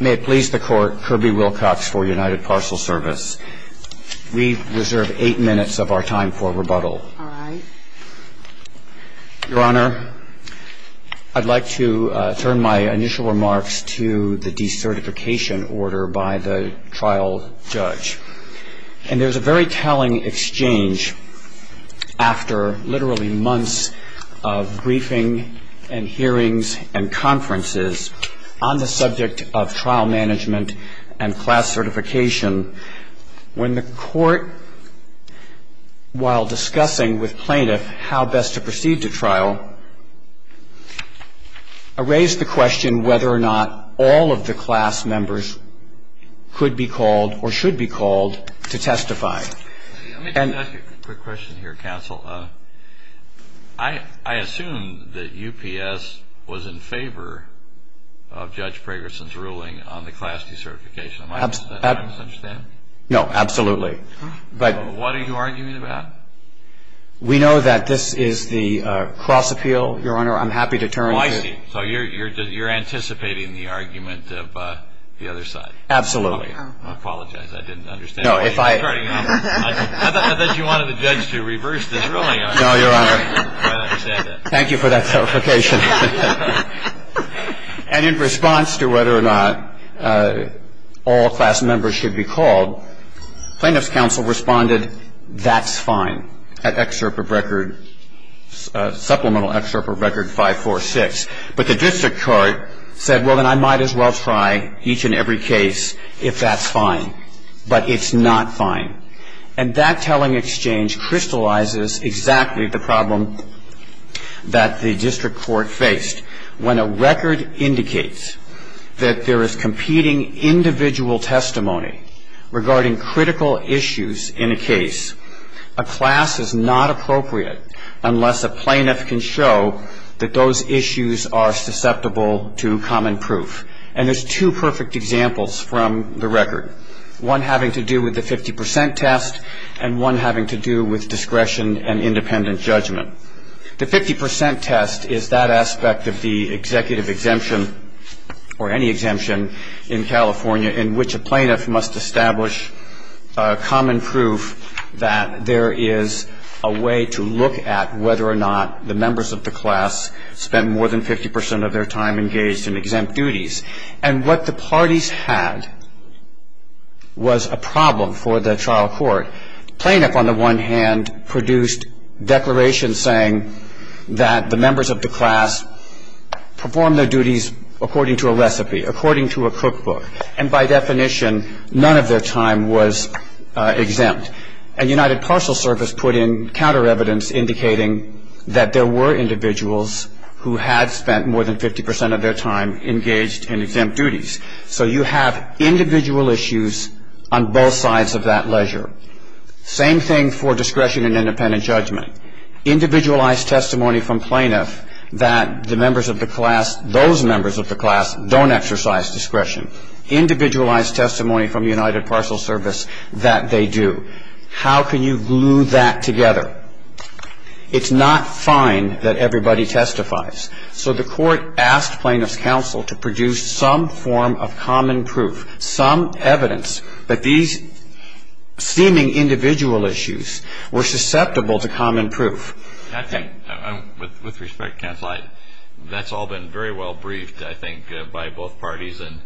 May it please the Court, Kirby Wilcox for United Parcel Service. We reserve eight minutes of our time for rebuttal. All right. Your Honor, I'd like to turn my initial remarks to the decertification order by the trial judge. And there's a very telling exchange after literally months of briefing and hearings and conferences on the subject of trial management and class certification, when the Court, while discussing with plaintiff how best to proceed to trial, raised the question whether or not all of the class members could be called or should be called to testify. Let me just ask you a quick question here, counsel. I assume that UPS was in favor of Judge Pragerson's ruling on the class decertification. Am I misunderstanding? No, absolutely. What are you arguing about? We know that this is the cross appeal, Your Honor. I'm happy to turn to you. Oh, I see. So you're anticipating the argument of the other side. Absolutely. I apologize. I didn't understand. No, if I – I thought you wanted the judge to reverse this ruling. No, Your Honor. Thank you for that clarification. And in response to whether or not all class members should be called, plaintiff's counsel responded, that's fine, at excerpt of record – supplemental excerpt of record 546. But the district court said, well, then I might as well try each and every case if that's fine. But it's not fine. And that telling exchange crystallizes exactly the problem that the district court faced. When a record indicates that there is competing individual testimony regarding critical issues in a case, a class is not appropriate unless a plaintiff can show that those issues are susceptible to common proof. And there's two perfect examples from the record, one having to do with the 50 percent test and one having to do with discretion and independent judgment. The 50 percent test is that aspect of the executive exemption or any exemption in California in which a plaintiff must establish common proof that there is a way to look at whether or not the members of the class spent more than 50 percent of their time engaged in exempt duties. And what the parties had was a problem for the trial court. Plaintiff, on the one hand, produced declarations saying that the members of the class performed their duties according to a recipe, according to a cookbook. And by definition, none of their time was exempt. And United Parcel Service put in counter evidence indicating that there were individuals who had spent more than 50 percent of their time engaged in exempt duties. So you have individual issues on both sides of that ledger. Same thing for discretion and independent judgment. Individualized testimony from plaintiff that the members of the class, those members of the class, don't exercise discretion. Individualized testimony from United Parcel Service that they do. How can you glue that together? It's not fine that everybody testifies. So the court asked plaintiff's counsel to produce some form of common proof, some evidence that these seeming individual issues were susceptible to common proof. With respect, counsel, that's all been very well briefed, I think, by both parties. And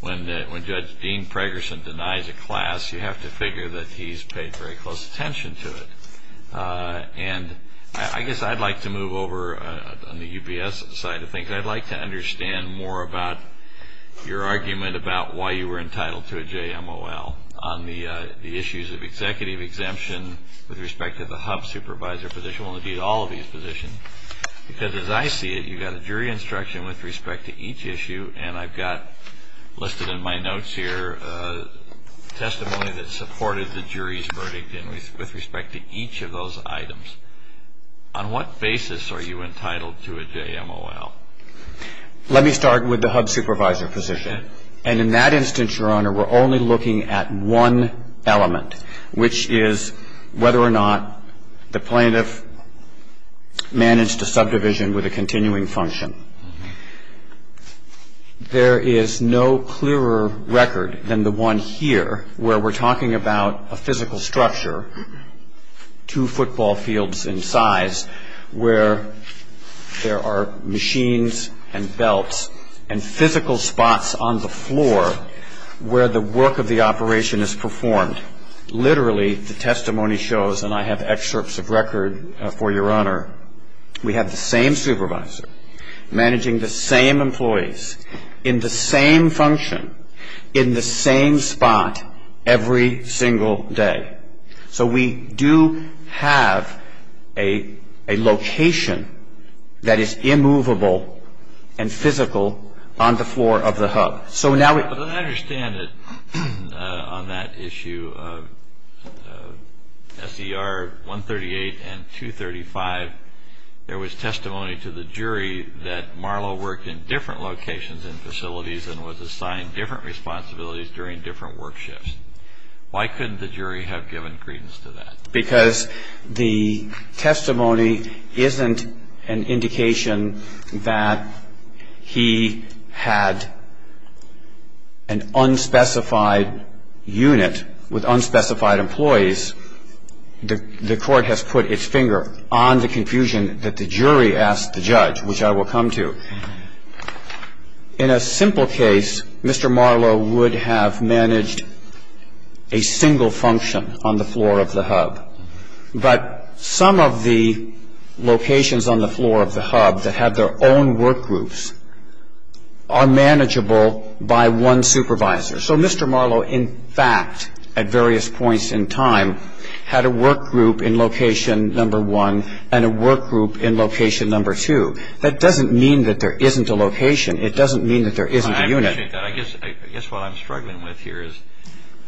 when Judge Dean Preggerson denies a class, you have to figure that he's paid very close attention to it. And I guess I'd like to move over on the UBS side of things. I'd like to understand more about your argument about why you were entitled to a JMOL on the issues of executive exemption with respect to the HUB supervisor position and, indeed, all of these positions. Because as I see it, you've got a jury instruction with respect to each issue, and I've got listed in my notes here a testimony that supported the jury's verdict with respect to each of those items. On what basis are you entitled to a JMOL? Let me start with the HUB supervisor position. And in that instance, Your Honor, we're only looking at one element, which is whether or not the plaintiff managed a subdivision with a continuing function. There is no clearer record than the one here where we're talking about a physical structure, two football fields in size, where there are machines and belts and physical spots on the floor where the work of the operation is performed. Literally, the testimony shows, and I have excerpts of record for Your Honor, we have the same supervisor managing the same employees in the same function in the same spot every single day. So we do have a location that is immovable and physical on the floor of the HUB. But I understand that on that issue of SER 138 and 235, there was testimony to the jury that Marlowe worked in different locations and facilities and was assigned different responsibilities during different work shifts. Why couldn't the jury have given credence to that? Because the testimony isn't an indication that he had an unspecified unit with unspecified employees. The Court has put its finger on the confusion that the jury asked the judge, which I will come to. In a simple case, Mr. Marlowe would have managed a single function on the floor of the HUB. But some of the locations on the floor of the HUB that have their own work groups are manageable by one supervisor. So Mr. Marlowe, in fact, at various points in time, had a work group in location number one and a work group in location number two. That doesn't mean that there isn't a location. It doesn't mean that there isn't a unit. I appreciate that. I guess what I'm struggling with here is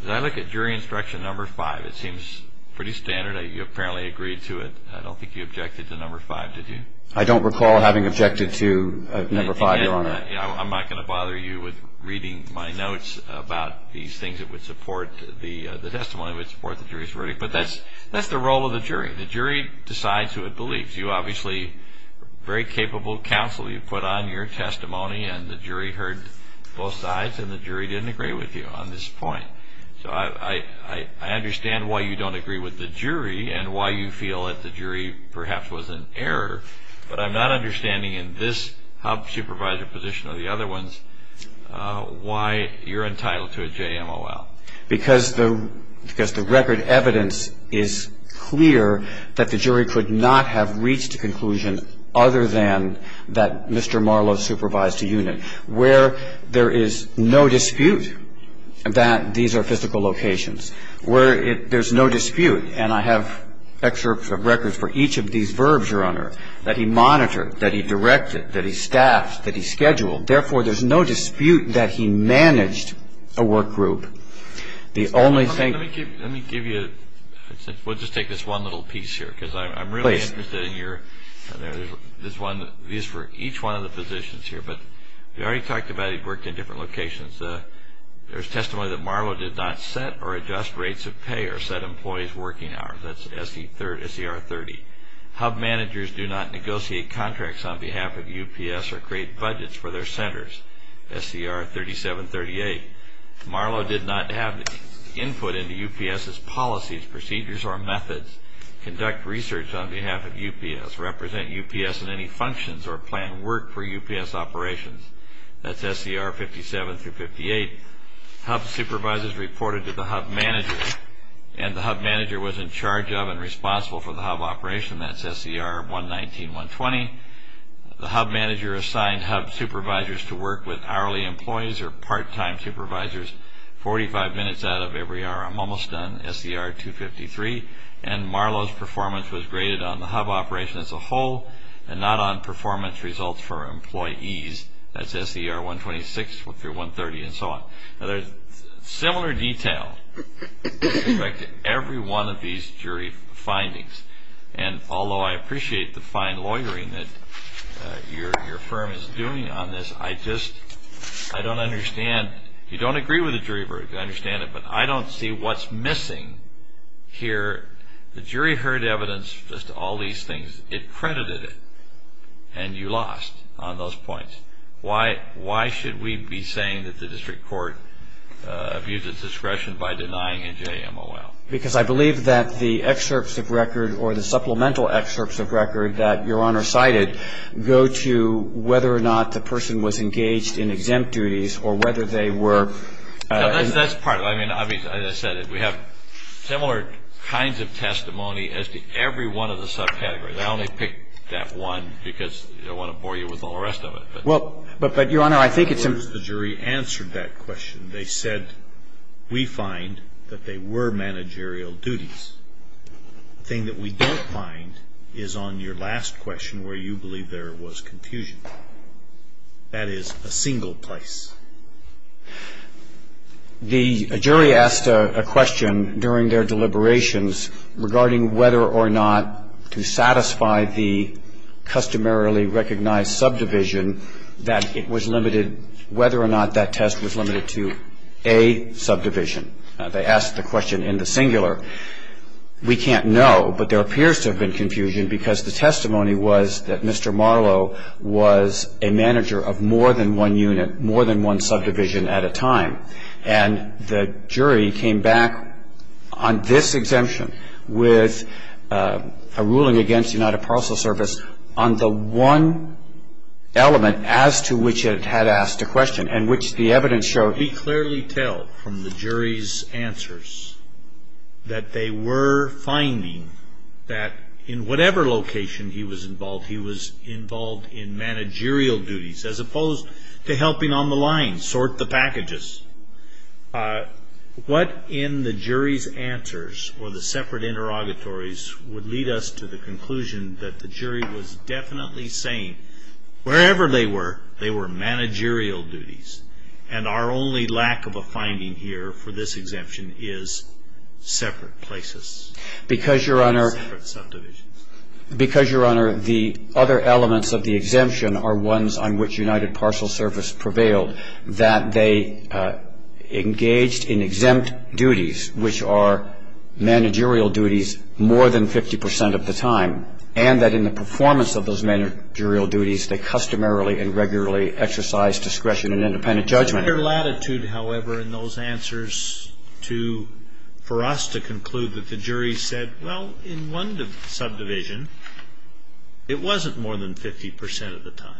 when I look at jury instruction number five, it seems pretty standard. You apparently agreed to it. I don't think you objected to number five, did you? I don't recall having objected to number five, Your Honor. I'm not going to bother you with reading my notes about these things that would support the testimony, that would support the jury's verdict. But that's the role of the jury. The jury decides who it believes. You obviously are very capable counsel. You put on your testimony, and the jury heard both sides, and the jury didn't agree with you on this point. So I understand why you don't agree with the jury and why you feel that the jury perhaps was in error. But I'm not understanding in this HUB supervisor position or the other ones why you're entitled to a JMOL. Because the record evidence is clear that the jury could not have reached a conclusion other than that Mr. Marlowe supervised a unit. Where there is no dispute that these are physical locations, where there's no dispute, and I have excerpts of records for each of these verbs, Your Honor, that he monitored, that he directed, that he staffed, that he scheduled. Therefore, there's no dispute that he managed a work group. The only thing – Let me give you – we'll just take this one little piece here because I'm really interested in your – Please. There's one for each one of the positions here. But we already talked about he worked in different locations. There's testimony that Marlowe did not set or adjust rates of pay or set employees' working hours. That's S.E.R. 30. HUB managers do not negotiate contracts on behalf of UPS or create budgets for their centers. S.E.R. 37, 38. Marlowe did not have input into UPS's policies, procedures, or methods, conduct research on behalf of UPS, represent UPS in any functions, or plan work for UPS operations. That's S.E.R. 57 through 58. HUB supervisors reported to the HUB manager, and the HUB manager was in charge of and responsible for the HUB operation. That's S.E.R. 119, 120. The HUB manager assigned HUB supervisors to work with hourly employees or part-time supervisors 45 minutes out of every hour. I'm almost done. S.E.R. 253. And Marlowe's performance was graded on the HUB operation as a whole and not on performance results for employees. That's S.E.R. 126 through 130 and so on. Now there's similar detail with respect to every one of these jury findings, and although I appreciate the fine lawyering that your firm is doing on this, I just don't understand. You don't agree with the jury verdict, I understand it, but I don't see what's missing here. The jury heard evidence just to all these things. It credited it, and you lost on those points. Why should we be saying that the district court abused its discretion by denying NJMOL? Because I believe that the excerpts of record or the supplemental excerpts of record that your Honor cited go to whether or not the person was engaged in exempt duties or whether they were. That's part of it. I mean, as I said, we have similar kinds of testimony as to every one of the subcategories. I only picked that one because I don't want to bore you with all the rest of it. Well, but, Your Honor, I think it's important. In other words, the jury answered that question. They said, we find that they were managerial duties. The thing that we don't find is on your last question where you believe there was confusion. That is a single place. The jury asked a question during their deliberations regarding whether or not to satisfy the customarily recognized subdivision that it was limited, whether or not that test was limited to a subdivision. They asked the question in the singular. We can't know, but there appears to have been confusion because the testimony was that Mr. Marlow was a manager of more than one unit, more than one subdivision at a time. And the jury came back on this exemption with a ruling against United Parcel Service on the one element as to which it had asked a question and which the evidence showed. We clearly tell from the jury's answers that they were finding that in whatever location he was involved, he was involved in managerial duties as opposed to helping on the line, sort the packages. What in the jury's answers or the separate interrogatories would lead us to the conclusion that the jury was definitely saying, wherever they were, they were managerial duties. And our only lack of a finding here for this exemption is separate places. Because, Your Honor, the other elements of the exemption are ones on which United Parcel Service prevailed, that they engaged in exempt duties, which are managerial duties, more than 50 percent of the time, and that in the performance of those managerial duties, they customarily and regularly exercised discretion and independent judgment. Under latitude, however, in those answers for us to conclude that the jury said, well, in one subdivision, it wasn't more than 50 percent of the time.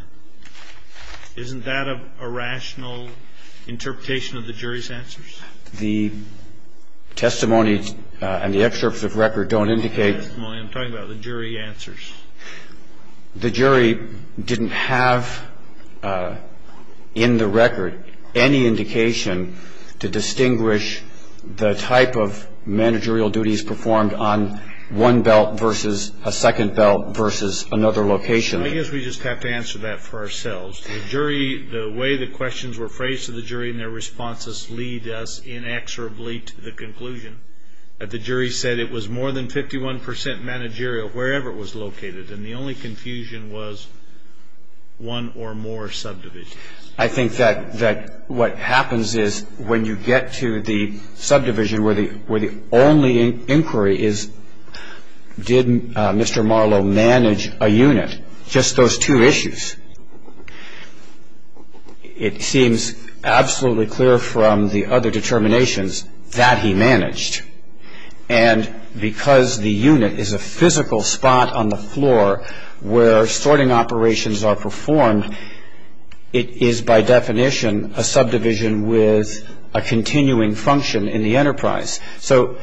Isn't that a rational interpretation of the jury's answers? The testimony and the excerpts of record don't indicate. I'm talking about the jury answers. The jury didn't have in the record any indication to distinguish the type of managerial duties performed on one belt versus a second belt versus another location. I guess we just have to answer that for ourselves. The jury, the way the questions were phrased to the jury and their responses lead us inexorably to the conclusion that the jury said it was more than 51 percent managerial wherever it was located and the only confusion was one or more subdivisions. I think that what happens is when you get to the subdivision where the only inquiry is, did Mr. Marlowe manage a unit, just those two issues, it seems absolutely clear from the other determinations that he managed. And because the unit is a physical spot on the floor where sorting operations are performed, it is by definition a subdivision with a continuing function in the enterprise. So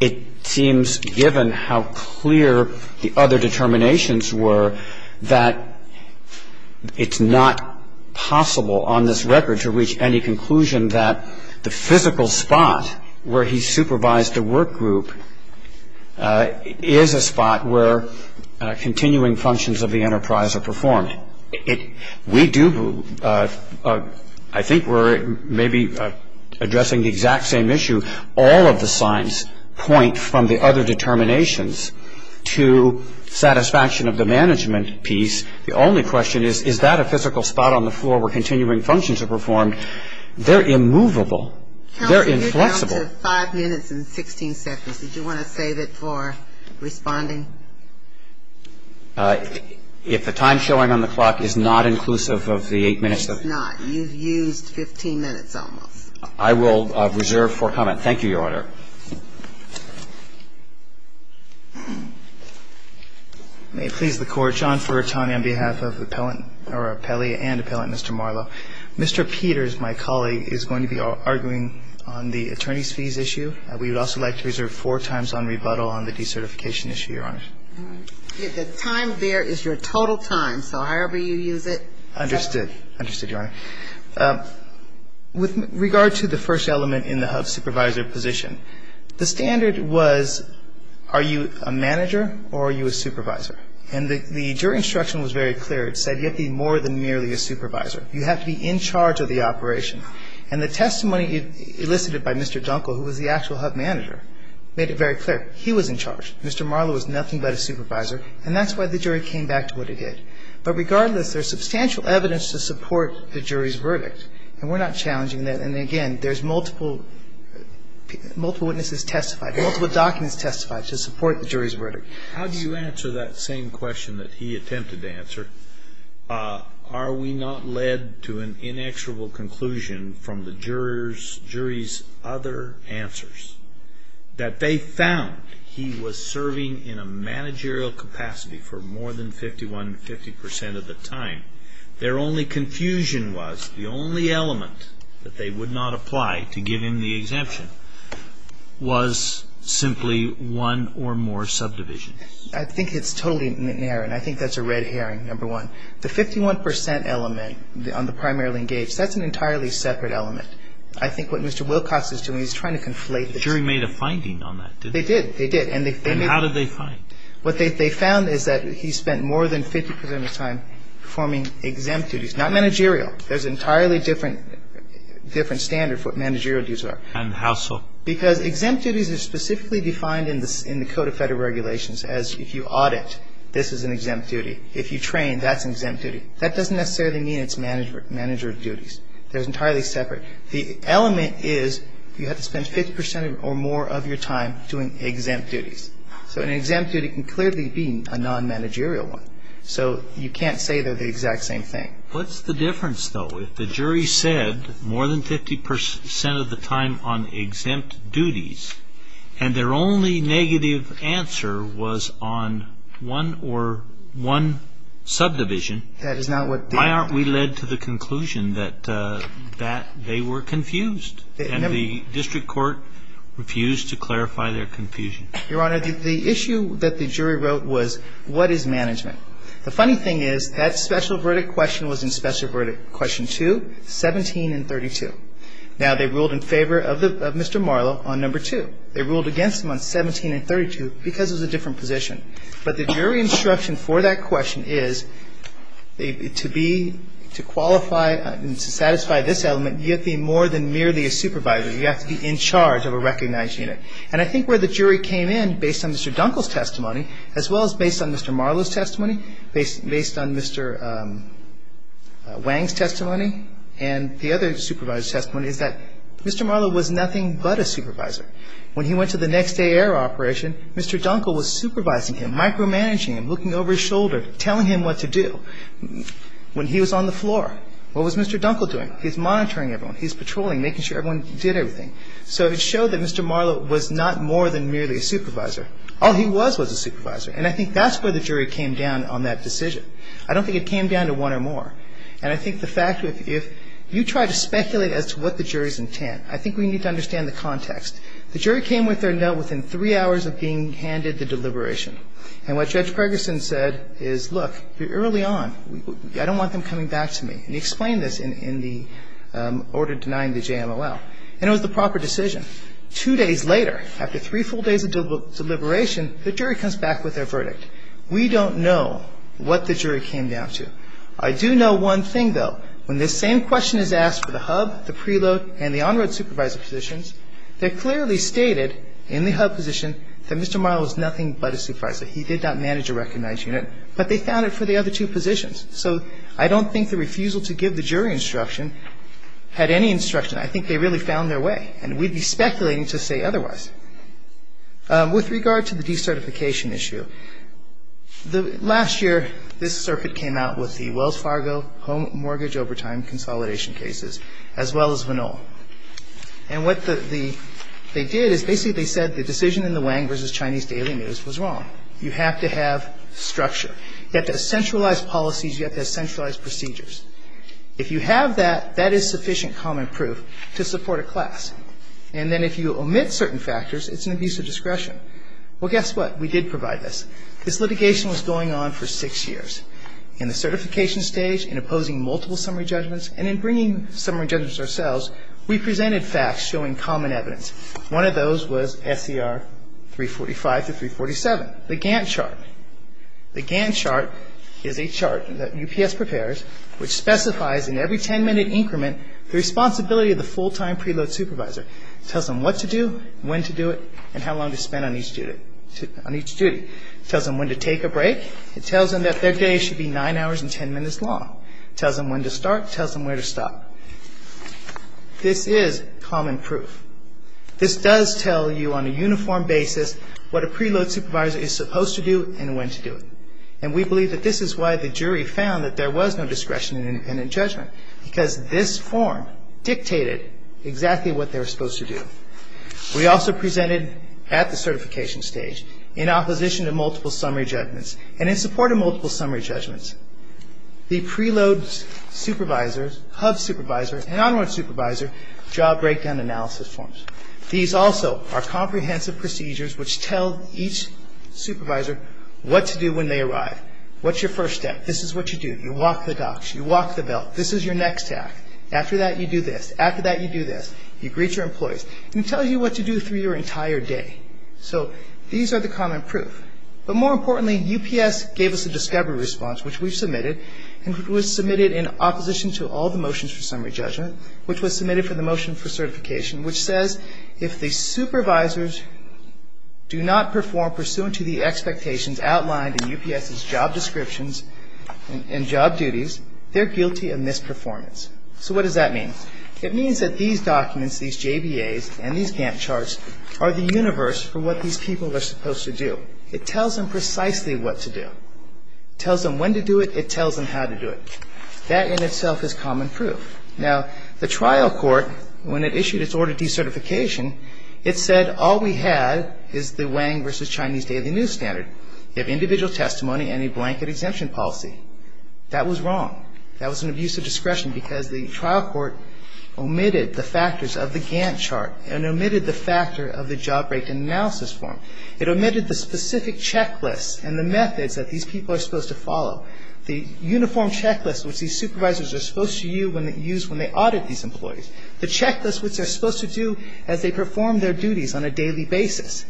it seems, given how clear the other determinations were, that it's not possible on this record to reach any conclusion that the physical spot where he supervised a work group is a spot where continuing functions of the enterprise are performed. We do, I think we're maybe addressing the exact same issue. All of the signs point from the other determinations to satisfaction of the management piece. The only question is, is that a physical spot on the floor where continuing functions are performed? They're immovable. They're inflexible. You're down to five minutes and 16 seconds. Did you want to save it for responding? If the time showing on the clock is not inclusive of the eight minutes? It's not. You've used 15 minutes almost. I will reserve for comment. Thank you, Your Honor. May it please the Court. John Furratone on behalf of appellant or appellee and appellant Mr. Marlowe. Mr. Peters, my colleague, is going to be arguing on the attorney's fees issue. We would also like to reserve four times on rebuttal on the decertification issue, Your Honor. The time there is your total time. So however you use it. Understood. Understood, Your Honor. With regard to the first element in the HUB supervisor position, the standard was are you a manager or are you a supervisor? And the jury instruction was very clear. It said you have to be more than merely a supervisor. You have to be in charge of the operation. And the testimony elicited by Mr. Dunkel, who was the actual HUB manager, made it very clear. He was in charge. Mr. Marlowe was nothing but a supervisor. And that's why the jury came back to what it did. But regardless, there's substantial evidence to support the jury's verdict. And we're not challenging that. And, again, there's multiple witnesses testified, multiple documents testified to support the jury's verdict. How do you answer that same question that he attempted to answer? Are we not led to an inexorable conclusion from the jury's other answers? That they found he was serving in a managerial capacity for more than 51 to 50 percent of the time. Their only confusion was the only element that they would not apply to give him the exemption was simply one or more subdivisions. I think it's totally inerrant. I think that's a red herring, number one. The 51 percent element on the primarily engaged, that's an entirely separate element. I think what Mr. Wilcox is doing, he's trying to conflate the two. The jury made a finding on that, didn't they? They did. They did. And how did they find? What they found is that he spent more than 50 percent of his time performing exempt duties. Not managerial. There's an entirely different standard for what managerial duties are. And how so? Because exempt duties are specifically defined in the Code of Federal Regulations as if you audit, this is an exempt duty. If you train, that's an exempt duty. That doesn't necessarily mean it's managerial duties. They're entirely separate. The element is you have to spend 50 percent or more of your time doing exempt duties. So an exempt duty can clearly be a non-managerial one. So you can't say they're the exact same thing. What's the difference, though? So if the jury said more than 50 percent of the time on exempt duties and their only negative answer was on one or one subdivision, why aren't we led to the conclusion that they were confused? And the district court refused to clarify their confusion. Your Honor, the issue that the jury wrote was what is management? The funny thing is that special verdict question was in special verdict question two, 17 and 32. Now, they ruled in favor of Mr. Marlow on number two. They ruled against him on 17 and 32 because it was a different position. But the jury instruction for that question is to be, to qualify and to satisfy this element, you have to be more than merely a supervisor. You have to be in charge of a recognized unit. And I think where the jury came in based on Mr. Dunkel's testimony as well as based on Mr. Marlow's testimony, based on Mr. Wang's testimony and the other supervisor's testimony is that Mr. Marlow was nothing but a supervisor. When he went to the next day error operation, Mr. Dunkel was supervising him, micromanaging him, looking over his shoulder, telling him what to do. When he was on the floor, what was Mr. Dunkel doing? He's monitoring everyone. He's patrolling, making sure everyone did everything. So it showed that Mr. Marlow was not more than merely a supervisor. All he was was a supervisor. And I think that's where the jury came down on that decision. I don't think it came down to one or more. And I think the fact, if you try to speculate as to what the jury's intent, I think we need to understand the context. The jury came with their note within three hours of being handed the deliberation. And what Judge Gregerson said is, look, you're early on. I don't want them coming back to me. And he explained this in the order denying the JMLL. And it was the proper decision. Two days later, after three full days of deliberation, the jury comes back with their verdict. We don't know what the jury came down to. I do know one thing, though. When this same question is asked for the hub, the preload, and the on-road supervisor positions, they clearly stated in the hub position that Mr. Marlow was nothing but a supervisor. He did not manage a recognized unit. But they found it for the other two positions. So I don't think the refusal to give the jury instruction had any instruction. I think they really found their way. And we'd be speculating to say otherwise. With regard to the decertification issue, last year this circuit came out with the Wells Fargo home mortgage overtime consolidation cases, as well as Vanol. And what they did is basically they said the decision in the Wang v. Chinese Daily News was wrong. You have to have structure. You have to have centralized policies. You have to have centralized procedures. If you have that, that is sufficient common proof to support a class. And then if you omit certain factors, it's an abuse of discretion. Well, guess what? We did provide this. This litigation was going on for six years. In the certification stage, in opposing multiple summary judgments, and in bringing summary judgments ourselves, we presented facts showing common evidence. The GAN chart is a chart that UPS prepares, which specifies in every ten-minute increment the responsibility of the full-time preload supervisor. It tells them what to do, when to do it, and how long to spend on each duty. It tells them when to take a break. It tells them that their day should be nine hours and ten minutes long. It tells them when to start. It tells them where to stop. This is common proof. This does tell you on a uniform basis what a preload supervisor is supposed to do and when to do it. And we believe that this is why the jury found that there was no discretion in independent judgment, because this form dictated exactly what they were supposed to do. We also presented at the certification stage, in opposition to multiple summary judgments, and in support of multiple summary judgments, the preload supervisor, and onward supervisor job breakdown analysis forms. These also are comprehensive procedures which tell each supervisor what to do when they arrive. What's your first step? This is what you do. You walk the docks. You walk the belt. This is your next act. After that, you do this. After that, you do this. You greet your employees. It can tell you what to do through your entire day. So these are the common proof. But more importantly, UPS gave us a discovery response, which we submitted, and was submitted in opposition to all the motions for summary judgment, which was submitted for the motion for certification, which says if the supervisors do not perform pursuant to the expectations outlined in UPS's job descriptions and job duties, they're guilty of misperformance. So what does that mean? It means that these documents, these JBAs and these GAMT charts, are the universe for what these people are supposed to do. It tells them precisely what to do. It tells them when to do it. It tells them how to do it. That in itself is common proof. Now, the trial court, when it issued its order of decertification, it said all we have is the Wang versus Chinese daily news standard. You have individual testimony and a blanket exemption policy. That was wrong. That was an abuse of discretion because the trial court omitted the factors of the GAMT chart and omitted the factor of the job rate analysis form. It omitted the specific checklists and the methods that these people are supposed to follow, the uniform checklist which these supervisors are supposed to use when they audit these employees, the checklist which they're supposed to do as they perform their duties on a daily basis.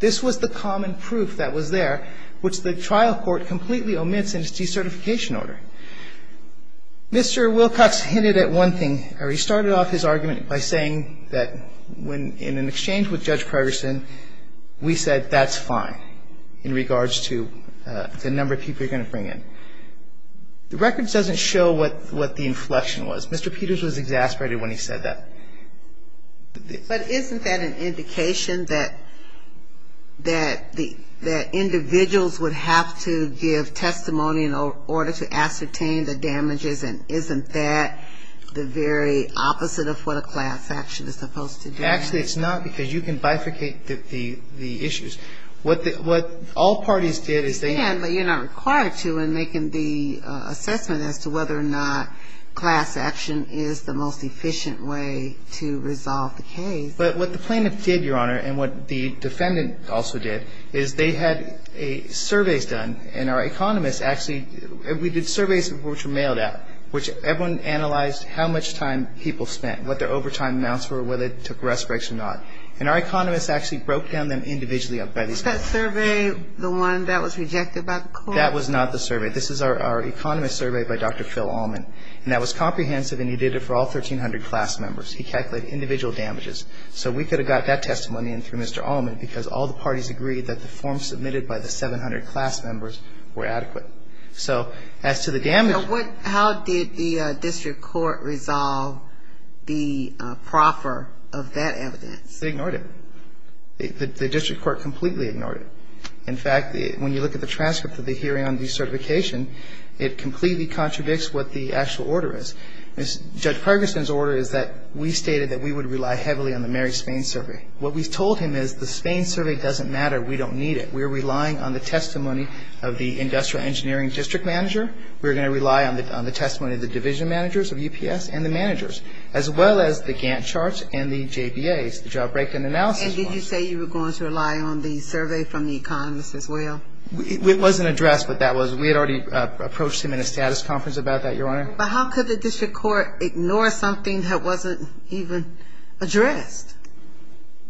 This was the common proof that was there, which the trial court completely omits in its decertification order. Mr. Wilcox hinted at one thing. He started off his argument by saying that in an exchange with Judge Pryorson, we said that's fine in regards to the number of people you're going to bring in. The records doesn't show what the inflection was. Mr. Peters was exasperated when he said that. But isn't that an indication that individuals would have to give testimony in order to ascertain the damages, and isn't that the very opposite of what a class action is supposed to do? Actually, it's not, because you can bifurcate the issues. What all parties did is they had to. But you're not required to in making the assessment as to whether or not class action is the most efficient way to resolve the case. But what the plaintiff did, Your Honor, and what the defendant also did, is they had surveys done, and our economists actually, we did surveys which were mailed out, which everyone analyzed how much time people spent, what their overtime amounts were, whether they took rest breaks or not. And our economists actually broke down them individually by these people. Is that survey the one that was rejected by the court? That was not the survey. This is our economist survey by Dr. Phil Allman. And that was comprehensive, and he did it for all 1,300 class members. He calculated individual damages. So we could have got that testimony in through Mr. Allman, because all the parties agreed that the forms submitted by the 700 class members were adequate. So as to the damage. How did the district court resolve the proffer of that evidence? They ignored it. The district court completely ignored it. In fact, when you look at the transcript of the hearing on decertification, it completely contradicts what the actual order is. Judge Ferguson's order is that we stated that we would rely heavily on the Mary Spain survey. What we told him is the Spain survey doesn't matter. We don't need it. We're relying on the testimony of the industrial engineering district manager. We're going to rely on the testimony of the division managers of UPS and the managers, as well as the Gantt charts and the JBAs, the job breakdown analysis. And did you say you were going to rely on the survey from the economists as well? It wasn't addressed, but that was we had already approached him in a status conference about that, Your Honor. But how could the district court ignore something that wasn't even addressed?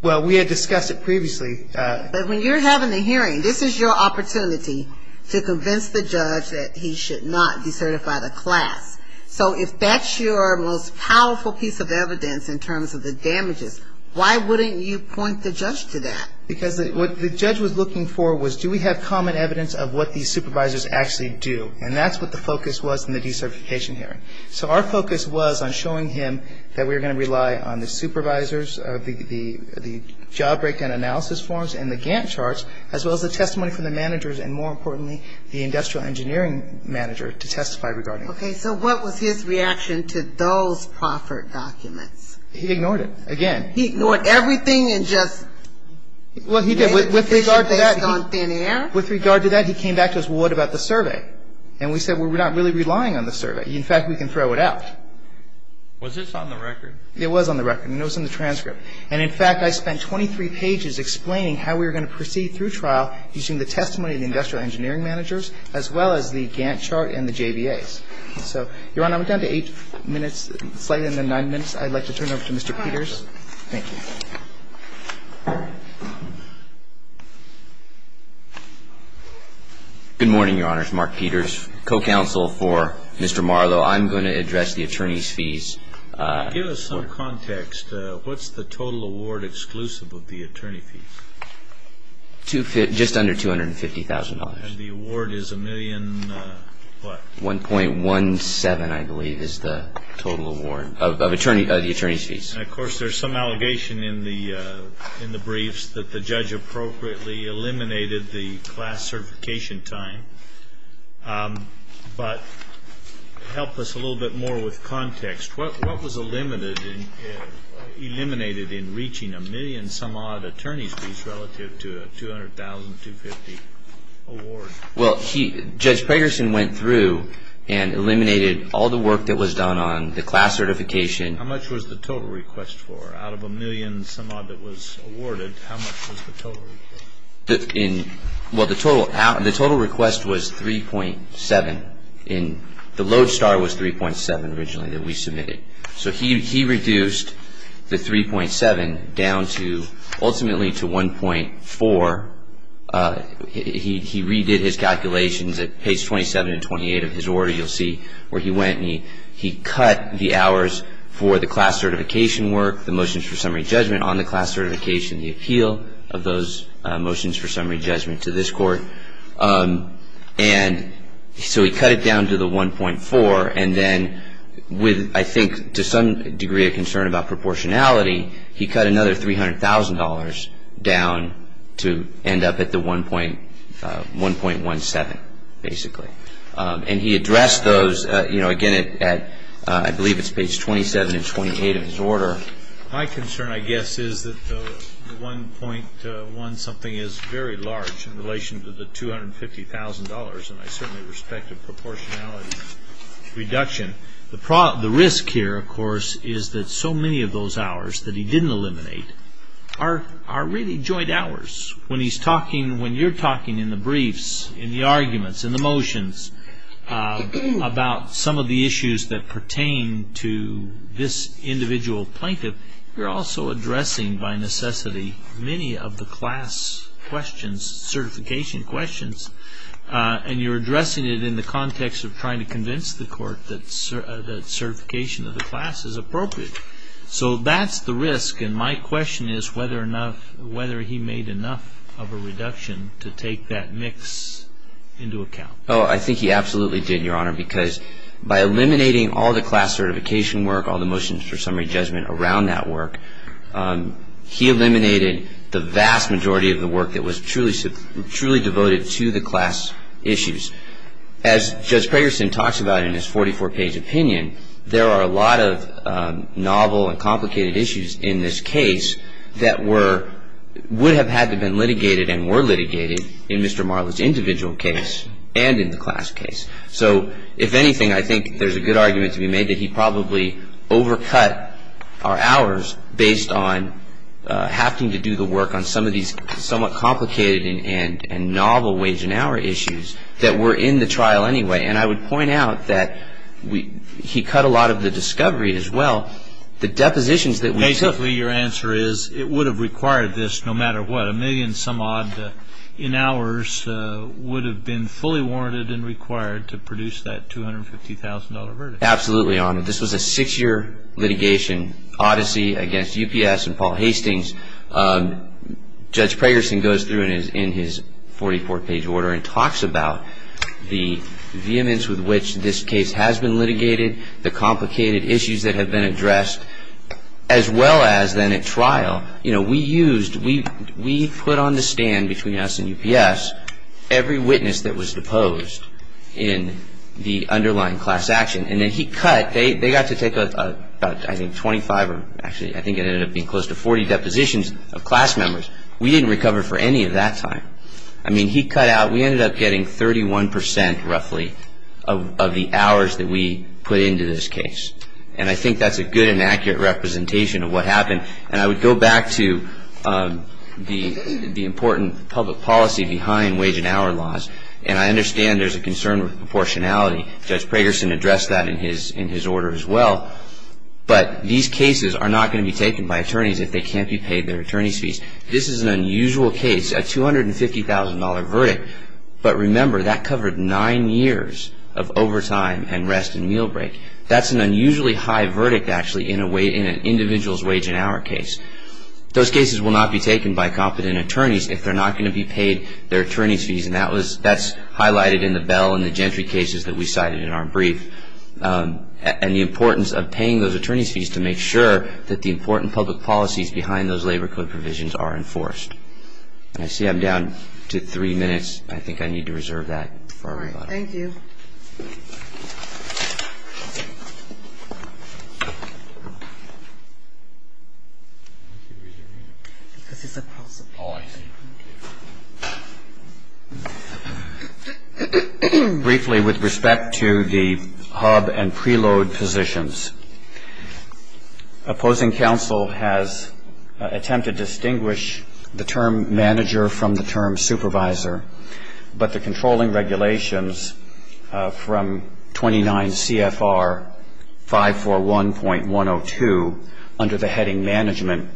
Well, we had discussed it previously. But when you're having a hearing, this is your opportunity to convince the judge that he should not decertify the class. So if that's your most powerful piece of evidence in terms of the damages, why wouldn't you point the judge to that? Because what the judge was looking for was do we have common evidence of what these supervisors actually do? And that's what the focus was in the decertification hearing. So our focus was on showing him that we were going to rely on the supervisors of the job breakdown analysis forms and the Gantt charts, as well as the testimony from the managers and, more importantly, the industrial engineering manager to testify regarding it. Okay. So what was his reaction to those proffered documents? He ignored it, again. He ignored everything and just made a decision based on thin air? With regard to that, he came back to us, well, what about the survey? And we said, well, we're not really relying on the survey. In fact, we can throw it out. Was this on the record? It was on the record, and it was in the transcript. And, in fact, I spent 23 pages explaining how we were going to proceed through trial using the testimony of the industrial engineering managers, as well as the Gantt chart and the JBAs. So, Your Honor, I'm down to eight minutes, slightly under nine minutes. I'd like to turn it over to Mr. Peters. Thank you. Good morning, Your Honors. Mark Peters, co-counsel for Mr. Marlowe. I'm going to address the attorney's fees. Give us some context. What's the total award exclusive of the attorney fees? Just under $250,000. And the award is a million what? And, of course, there's some allegation in the briefs that the judge appropriately eliminated the class certification time. But to help us a little bit more with context, what was eliminated in reaching a million-some-odd attorney's fees relative to a $200,000, $250,000 award? Well, Judge Pragerson went through and eliminated all the work that was done on the class certification. How much was the total request for? Out of a million-some-odd that was awarded, how much was the total request? Well, the total request was 3.7. The load star was 3.7 originally that we submitted. So he reduced the 3.7 down to ultimately to 1.4. He redid his calculations at page 27 and 28 of his order. You'll see where he went. And he cut the hours for the class certification work, the motions for summary judgment on the class certification, the appeal of those motions for summary judgment to this court. And so he cut it down to the 1.4. And then with, I think, to some degree a concern about proportionality, he cut another $300,000 down to end up at the 1.17, basically. And he addressed those, you know, again, I believe it's page 27 and 28 of his order. My concern, I guess, is that the 1.1 something is very large in relation to the $250,000, and I certainly respect the proportionality reduction. The risk here, of course, is that so many of those hours that he didn't eliminate are really joint hours. When he's talking, when you're talking in the briefs, in the arguments, in the motions, about some of the issues that pertain to this individual plaintiff, you're also addressing, by necessity, many of the class questions, certification questions, and you're addressing it in the context of trying to convince the court that certification of the class is appropriate. So that's the risk, and my question is whether he made enough of a reduction to take that mix into account. Oh, I think he absolutely did, Your Honor, because by eliminating all the class certification work, all the motions for summary judgment around that work, he eliminated the vast majority of the work that was truly devoted to the class issues. As Judge Pregerson talks about in his 44-page opinion, there are a lot of novel and complicated issues in this case that were, would have had to have been litigated and were litigated in Mr. Marla's individual case and in the class case. So, if anything, I think there's a good argument to be made that he probably overcut our hours based on having to do the work on some of these somewhat complicated and novel wage and hour issues that were in the trial anyway, and I would point out that he cut a lot of the discovery as well, the depositions that we took. Basically, your answer is it would have required this no matter what. A million some odd in hours would have been fully warranted and required to produce that $250,000 verdict. Absolutely, Your Honor. This was a six-year litigation odyssey against UPS and Paul Hastings. Judge Pregerson goes through in his 44-page order and talks about the vehemence with which this case has been litigated, the complicated issues that have been addressed, as well as then at trial. You know, we used, we put on the stand between us and UPS every witness that was deposed in the underlying class action, and then he cut, they got to take, I think, 25 or actually I think it ended up being close to 40 depositions of class members. We didn't recover for any of that time. I mean, he cut out, we ended up getting 31% roughly of the hours that we put into this case, and I think that's a good and accurate representation of what happened, and I would go back to the important public policy behind wage and hour laws, and I understand there's a concern with proportionality. Judge Pregerson addressed that in his order as well, but these cases are not going to be taken by attorneys if they can't be paid their attorney's fees. This is an unusual case, a $250,000 verdict, but remember, that covered nine years of overtime and rest and meal break. That's an unusually high verdict, actually, in an individual's wage and hour case. Those cases will not be taken by competent attorneys if they're not going to be paid their attorney's fees, and that's highlighted in the Bell and the Gentry cases that we cited in our brief, and the importance of paying those attorney's fees to make sure that the important public policies behind those labor code provisions are enforced. I see I'm down to three minutes. I think I need to reserve that for everybody. All right. Thank you. Briefly, with respect to the hub and preload positions, opposing counsel has attempted to distinguish the term manager from the term supervisor, but the controlling regulations from the preload position from 29 CFR 541.102 under the heading management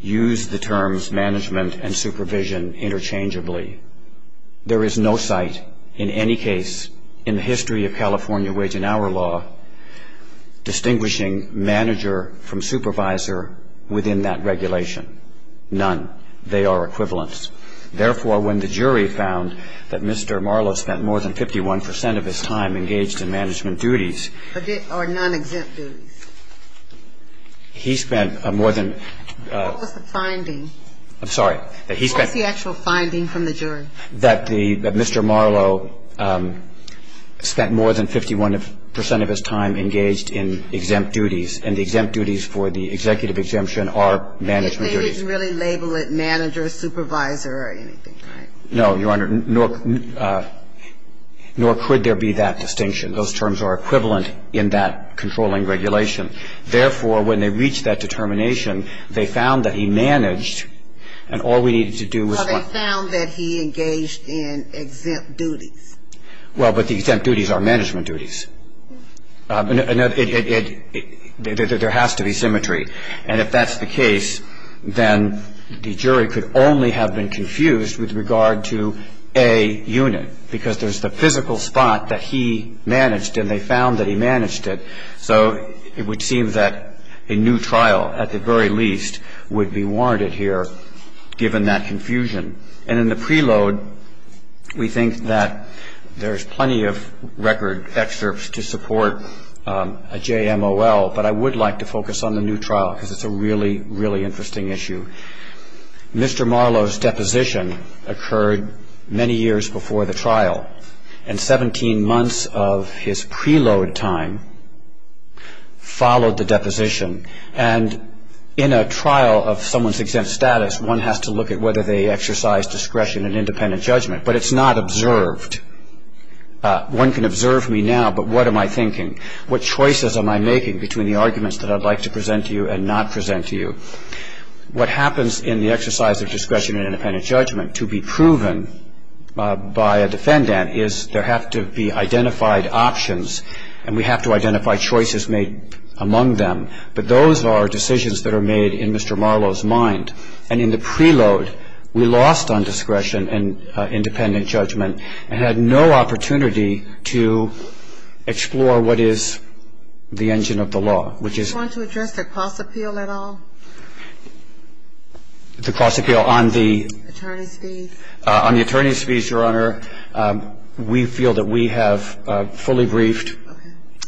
use the terms management and supervision interchangeably. There is no site in any case in the history of California wage and hour law distinguishing manager from supervisor within that regulation. None. They are equivalents. Therefore, when the jury found that Mr. Marlowe spent more than 51 percent of his time engaged in management duties. Or non-exempt duties. He spent more than. What was the finding? I'm sorry. What was the actual finding from the jury? That Mr. Marlowe spent more than 51 percent of his time engaged in exempt duties, and the exempt duties for the executive exemption are management duties. He didn't really label it manager, supervisor or anything, right? No, Your Honor. Nor could there be that distinction. Those terms are equivalent in that controlling regulation. Therefore, when they reached that determination, they found that he managed, and all we needed to do was... Well, they found that he engaged in exempt duties. Well, but the exempt duties are management duties. There has to be symmetry. And if that's the case, then the jury could only have been confused with regard to a unit, because there's the physical spot that he managed, and they found that he managed it. So it would seem that a new trial, at the very least, would be warranted here, given that confusion. And in the preload, we think that there's plenty of record excerpts to support a JMOL, but I would like to focus on the new trial, because it's a really, really interesting issue. Mr. Marlowe's deposition occurred many years before the trial, and 17 months of his preload time followed the deposition. And in a trial of someone's exempt status, one has to look at whether they exercise discretion and independent judgment, but it's not observed. What choices am I making between the arguments that I'd like to present to you and not present to you? What happens in the exercise of discretion and independent judgment to be proven by a defendant is there have to be identified options, and we have to identify choices made among them. But those are decisions that are made in Mr. Marlowe's mind. And in the preload, we lost on discretion and independent judgment and had no opportunity to explore what is the engine of the law, which is... Do you want to address the cost appeal at all? The cost appeal on the... Attorney's fees. On the attorney's fees, Your Honor, we feel that we have fully briefed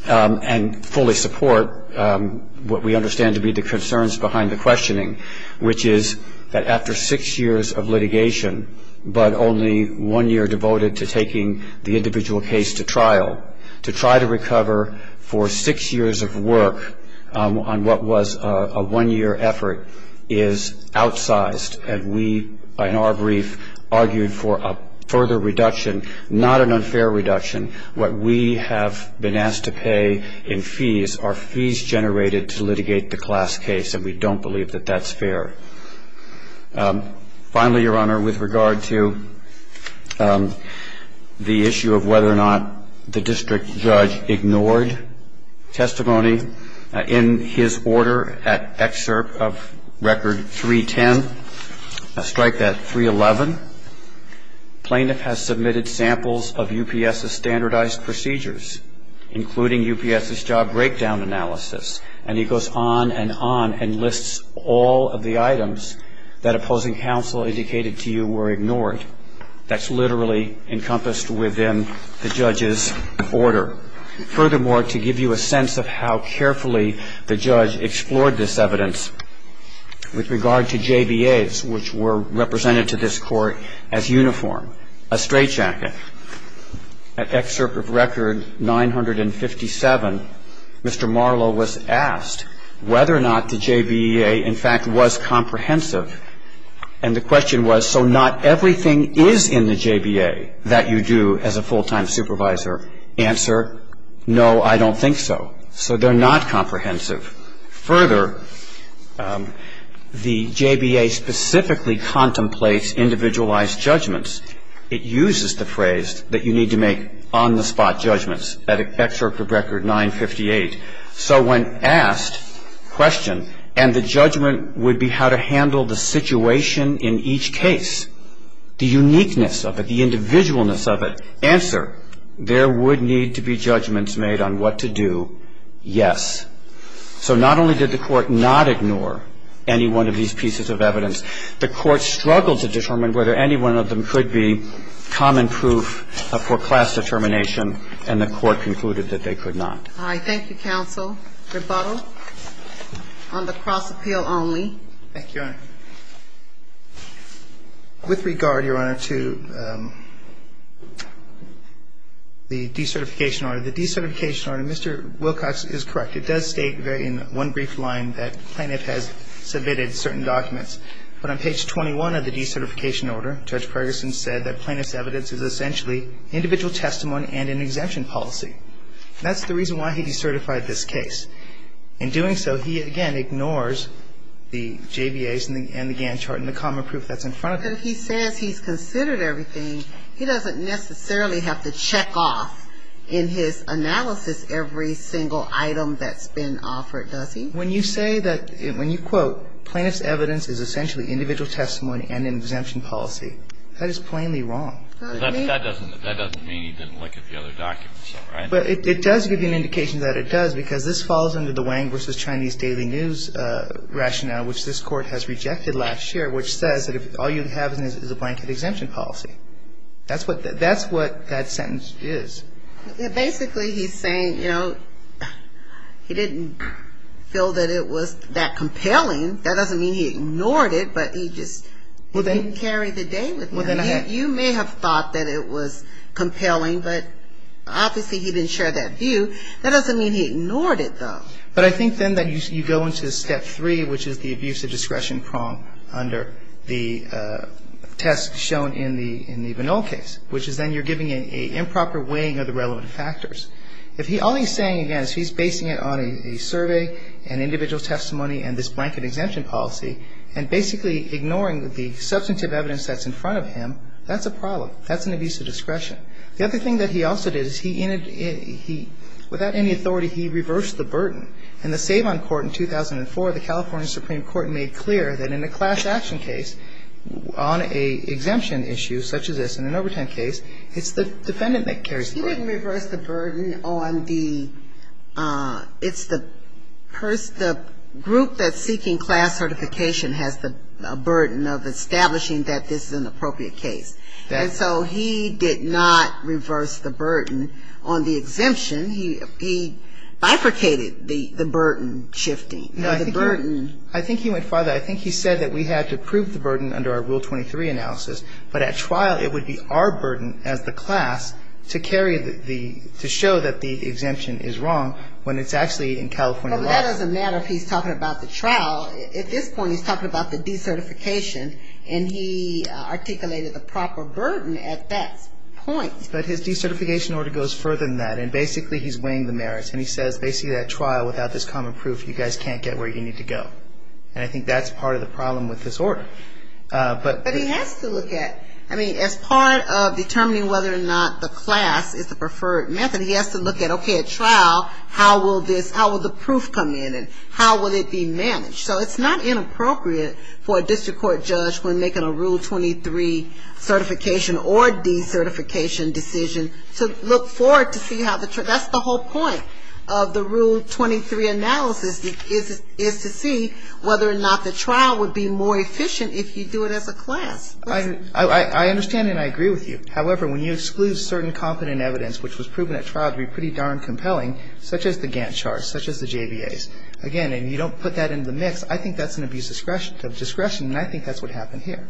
and fully support what we understand to be the concerns behind the questioning, which is that after six years of litigation, but only one year devoted to taking the individual case to trial, to try to recover for six years of work on what was a one-year effort is outsized. And we, in our brief, argued for a further reduction, not an unfair reduction. What we have been asked to pay in fees are fees generated to litigate the class case, and we don't believe that that's fair. Finally, Your Honor, with regard to the issue of whether or not the district judge ignored testimony, in his order at excerpt of record 310, strike that 311, plaintiff has submitted samples of UPS's standardized procedures, including UPS's job breakdown analysis. And he goes on and on and lists all of the items that opposing counsel indicated to you were ignored. That's literally encompassed within the judge's order. Furthermore, to give you a sense of how carefully the judge explored this evidence, with regard to JBAs, which were represented to this court as uniform, a straitjacket, at excerpt of record 957, Mr. Marlow was asked whether or not the JBA, in fact, was comprehensive. And the question was, so not everything is in the JBA that you do as a full-time supervisor. Answer, no, I don't think so. So they're not comprehensive. Further, the JBA specifically contemplates individualized judgments. It uses the phrase that you need to make on-the-spot judgments, at excerpt of record 958. So when asked, question, and the judgment would be how to handle the situation in each case, the uniqueness of it, the individualness of it, answer, there would need to be judgments made on what to do, yes. So not only did the court not ignore any one of these pieces of evidence, the court struggled to determine whether any one of them could be common proof for class determination, and the court concluded that they could not. All right. Thank you, counsel. Rebuttal on the cross-appeal only. Thank you, Your Honor. With regard, Your Honor, to the decertification order. The decertification order, Mr. Wilcox is correct. It does state in one brief line that plaintiff has submitted certain documents. But on page 21 of the decertification order, Judge Ferguson said that plaintiff's evidence is essentially individual testimony and an exemption policy. That's the reason why he decertified this case. In doing so, he, again, ignores the JBAs and the GAN chart and the common proof that's in front of him. If he says he's considered everything, he doesn't necessarily have to check off in his analysis every single item that's been offered, does he? When you say that, when you quote, plaintiff's evidence is essentially individual testimony and an exemption policy, that is plainly wrong. That doesn't mean he didn't look at the other documents, right? It does give you an indication that it does, because this falls under the Wang v. Chinese Daily News rationale, which this court has rejected last year, which says that all you have is a blanket exemption policy. That's what that sentence is. Basically, he's saying, you know, he didn't feel that it was that compelling. That doesn't mean he ignored it, but he just didn't carry the day with it. You may have thought that it was compelling, but obviously he didn't share that view. That doesn't mean he ignored it, though. But I think then that you go into step three, which is the abuse of discretion prong under the test shown in the Vanol case, which is then you're giving an improper weighing of the relevant factors. All he's saying, again, is he's basing it on a survey and individual testimony and this blanket exemption policy, and basically ignoring the substantive evidence that's in front of him. That's an abuse of discretion. The other thing that he also did is he, without any authority, he reversed the burden. In the Savon court in 2004, the California Supreme Court made clear that in a class action case, on an exemption issue such as this, in an overtime case, it's the defendant that carries the burden. He didn't reverse the burden on the, it's the person, the group that's seeking class certification has the burden of establishing that this is an appropriate case. And so he did not reverse the burden on the exemption. He bifurcated the burden shifting, the burden. I think he went further. I think he said that we had to prove the burden under our Rule 23 analysis, but at trial it would be our burden as the class to carry the, to show that the exemption is wrong when it's actually in California law. But that doesn't matter if he's talking about the trial. At this point he's talking about the decertification. And he articulated the proper burden at that point. But his decertification order goes further than that. And basically he's weighing the merits. And he says basically at trial, without this common proof, you guys can't get where you need to go. And I think that's part of the problem with this order. But he has to look at, I mean, as part of determining whether or not the class is the preferred method, he has to look at, okay, at trial, how will this, how will the proof come in? How will it be managed? So it's not inappropriate for a district court judge when making a Rule 23 certification or decertification decision to look forward to see how the, that's the whole point of the Rule 23 analysis, is to see whether or not the trial would be more efficient if you do it as a class. I understand and I agree with you. However, when you exclude certain competent evidence, which was proven at trial to be pretty darn compelling, such as the Gantt charts, such as the JBAs, again, and you don't put that into the mix, I think that's an abuse of discretion and I think that's what happened here.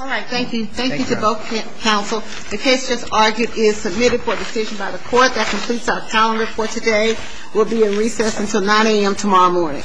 All right. Thank you. Thank you to both counsel. The case just argued is submitted for decision by the court. That completes our calendar for today. We'll be in recess until 9 a.m. tomorrow morning. Thank you.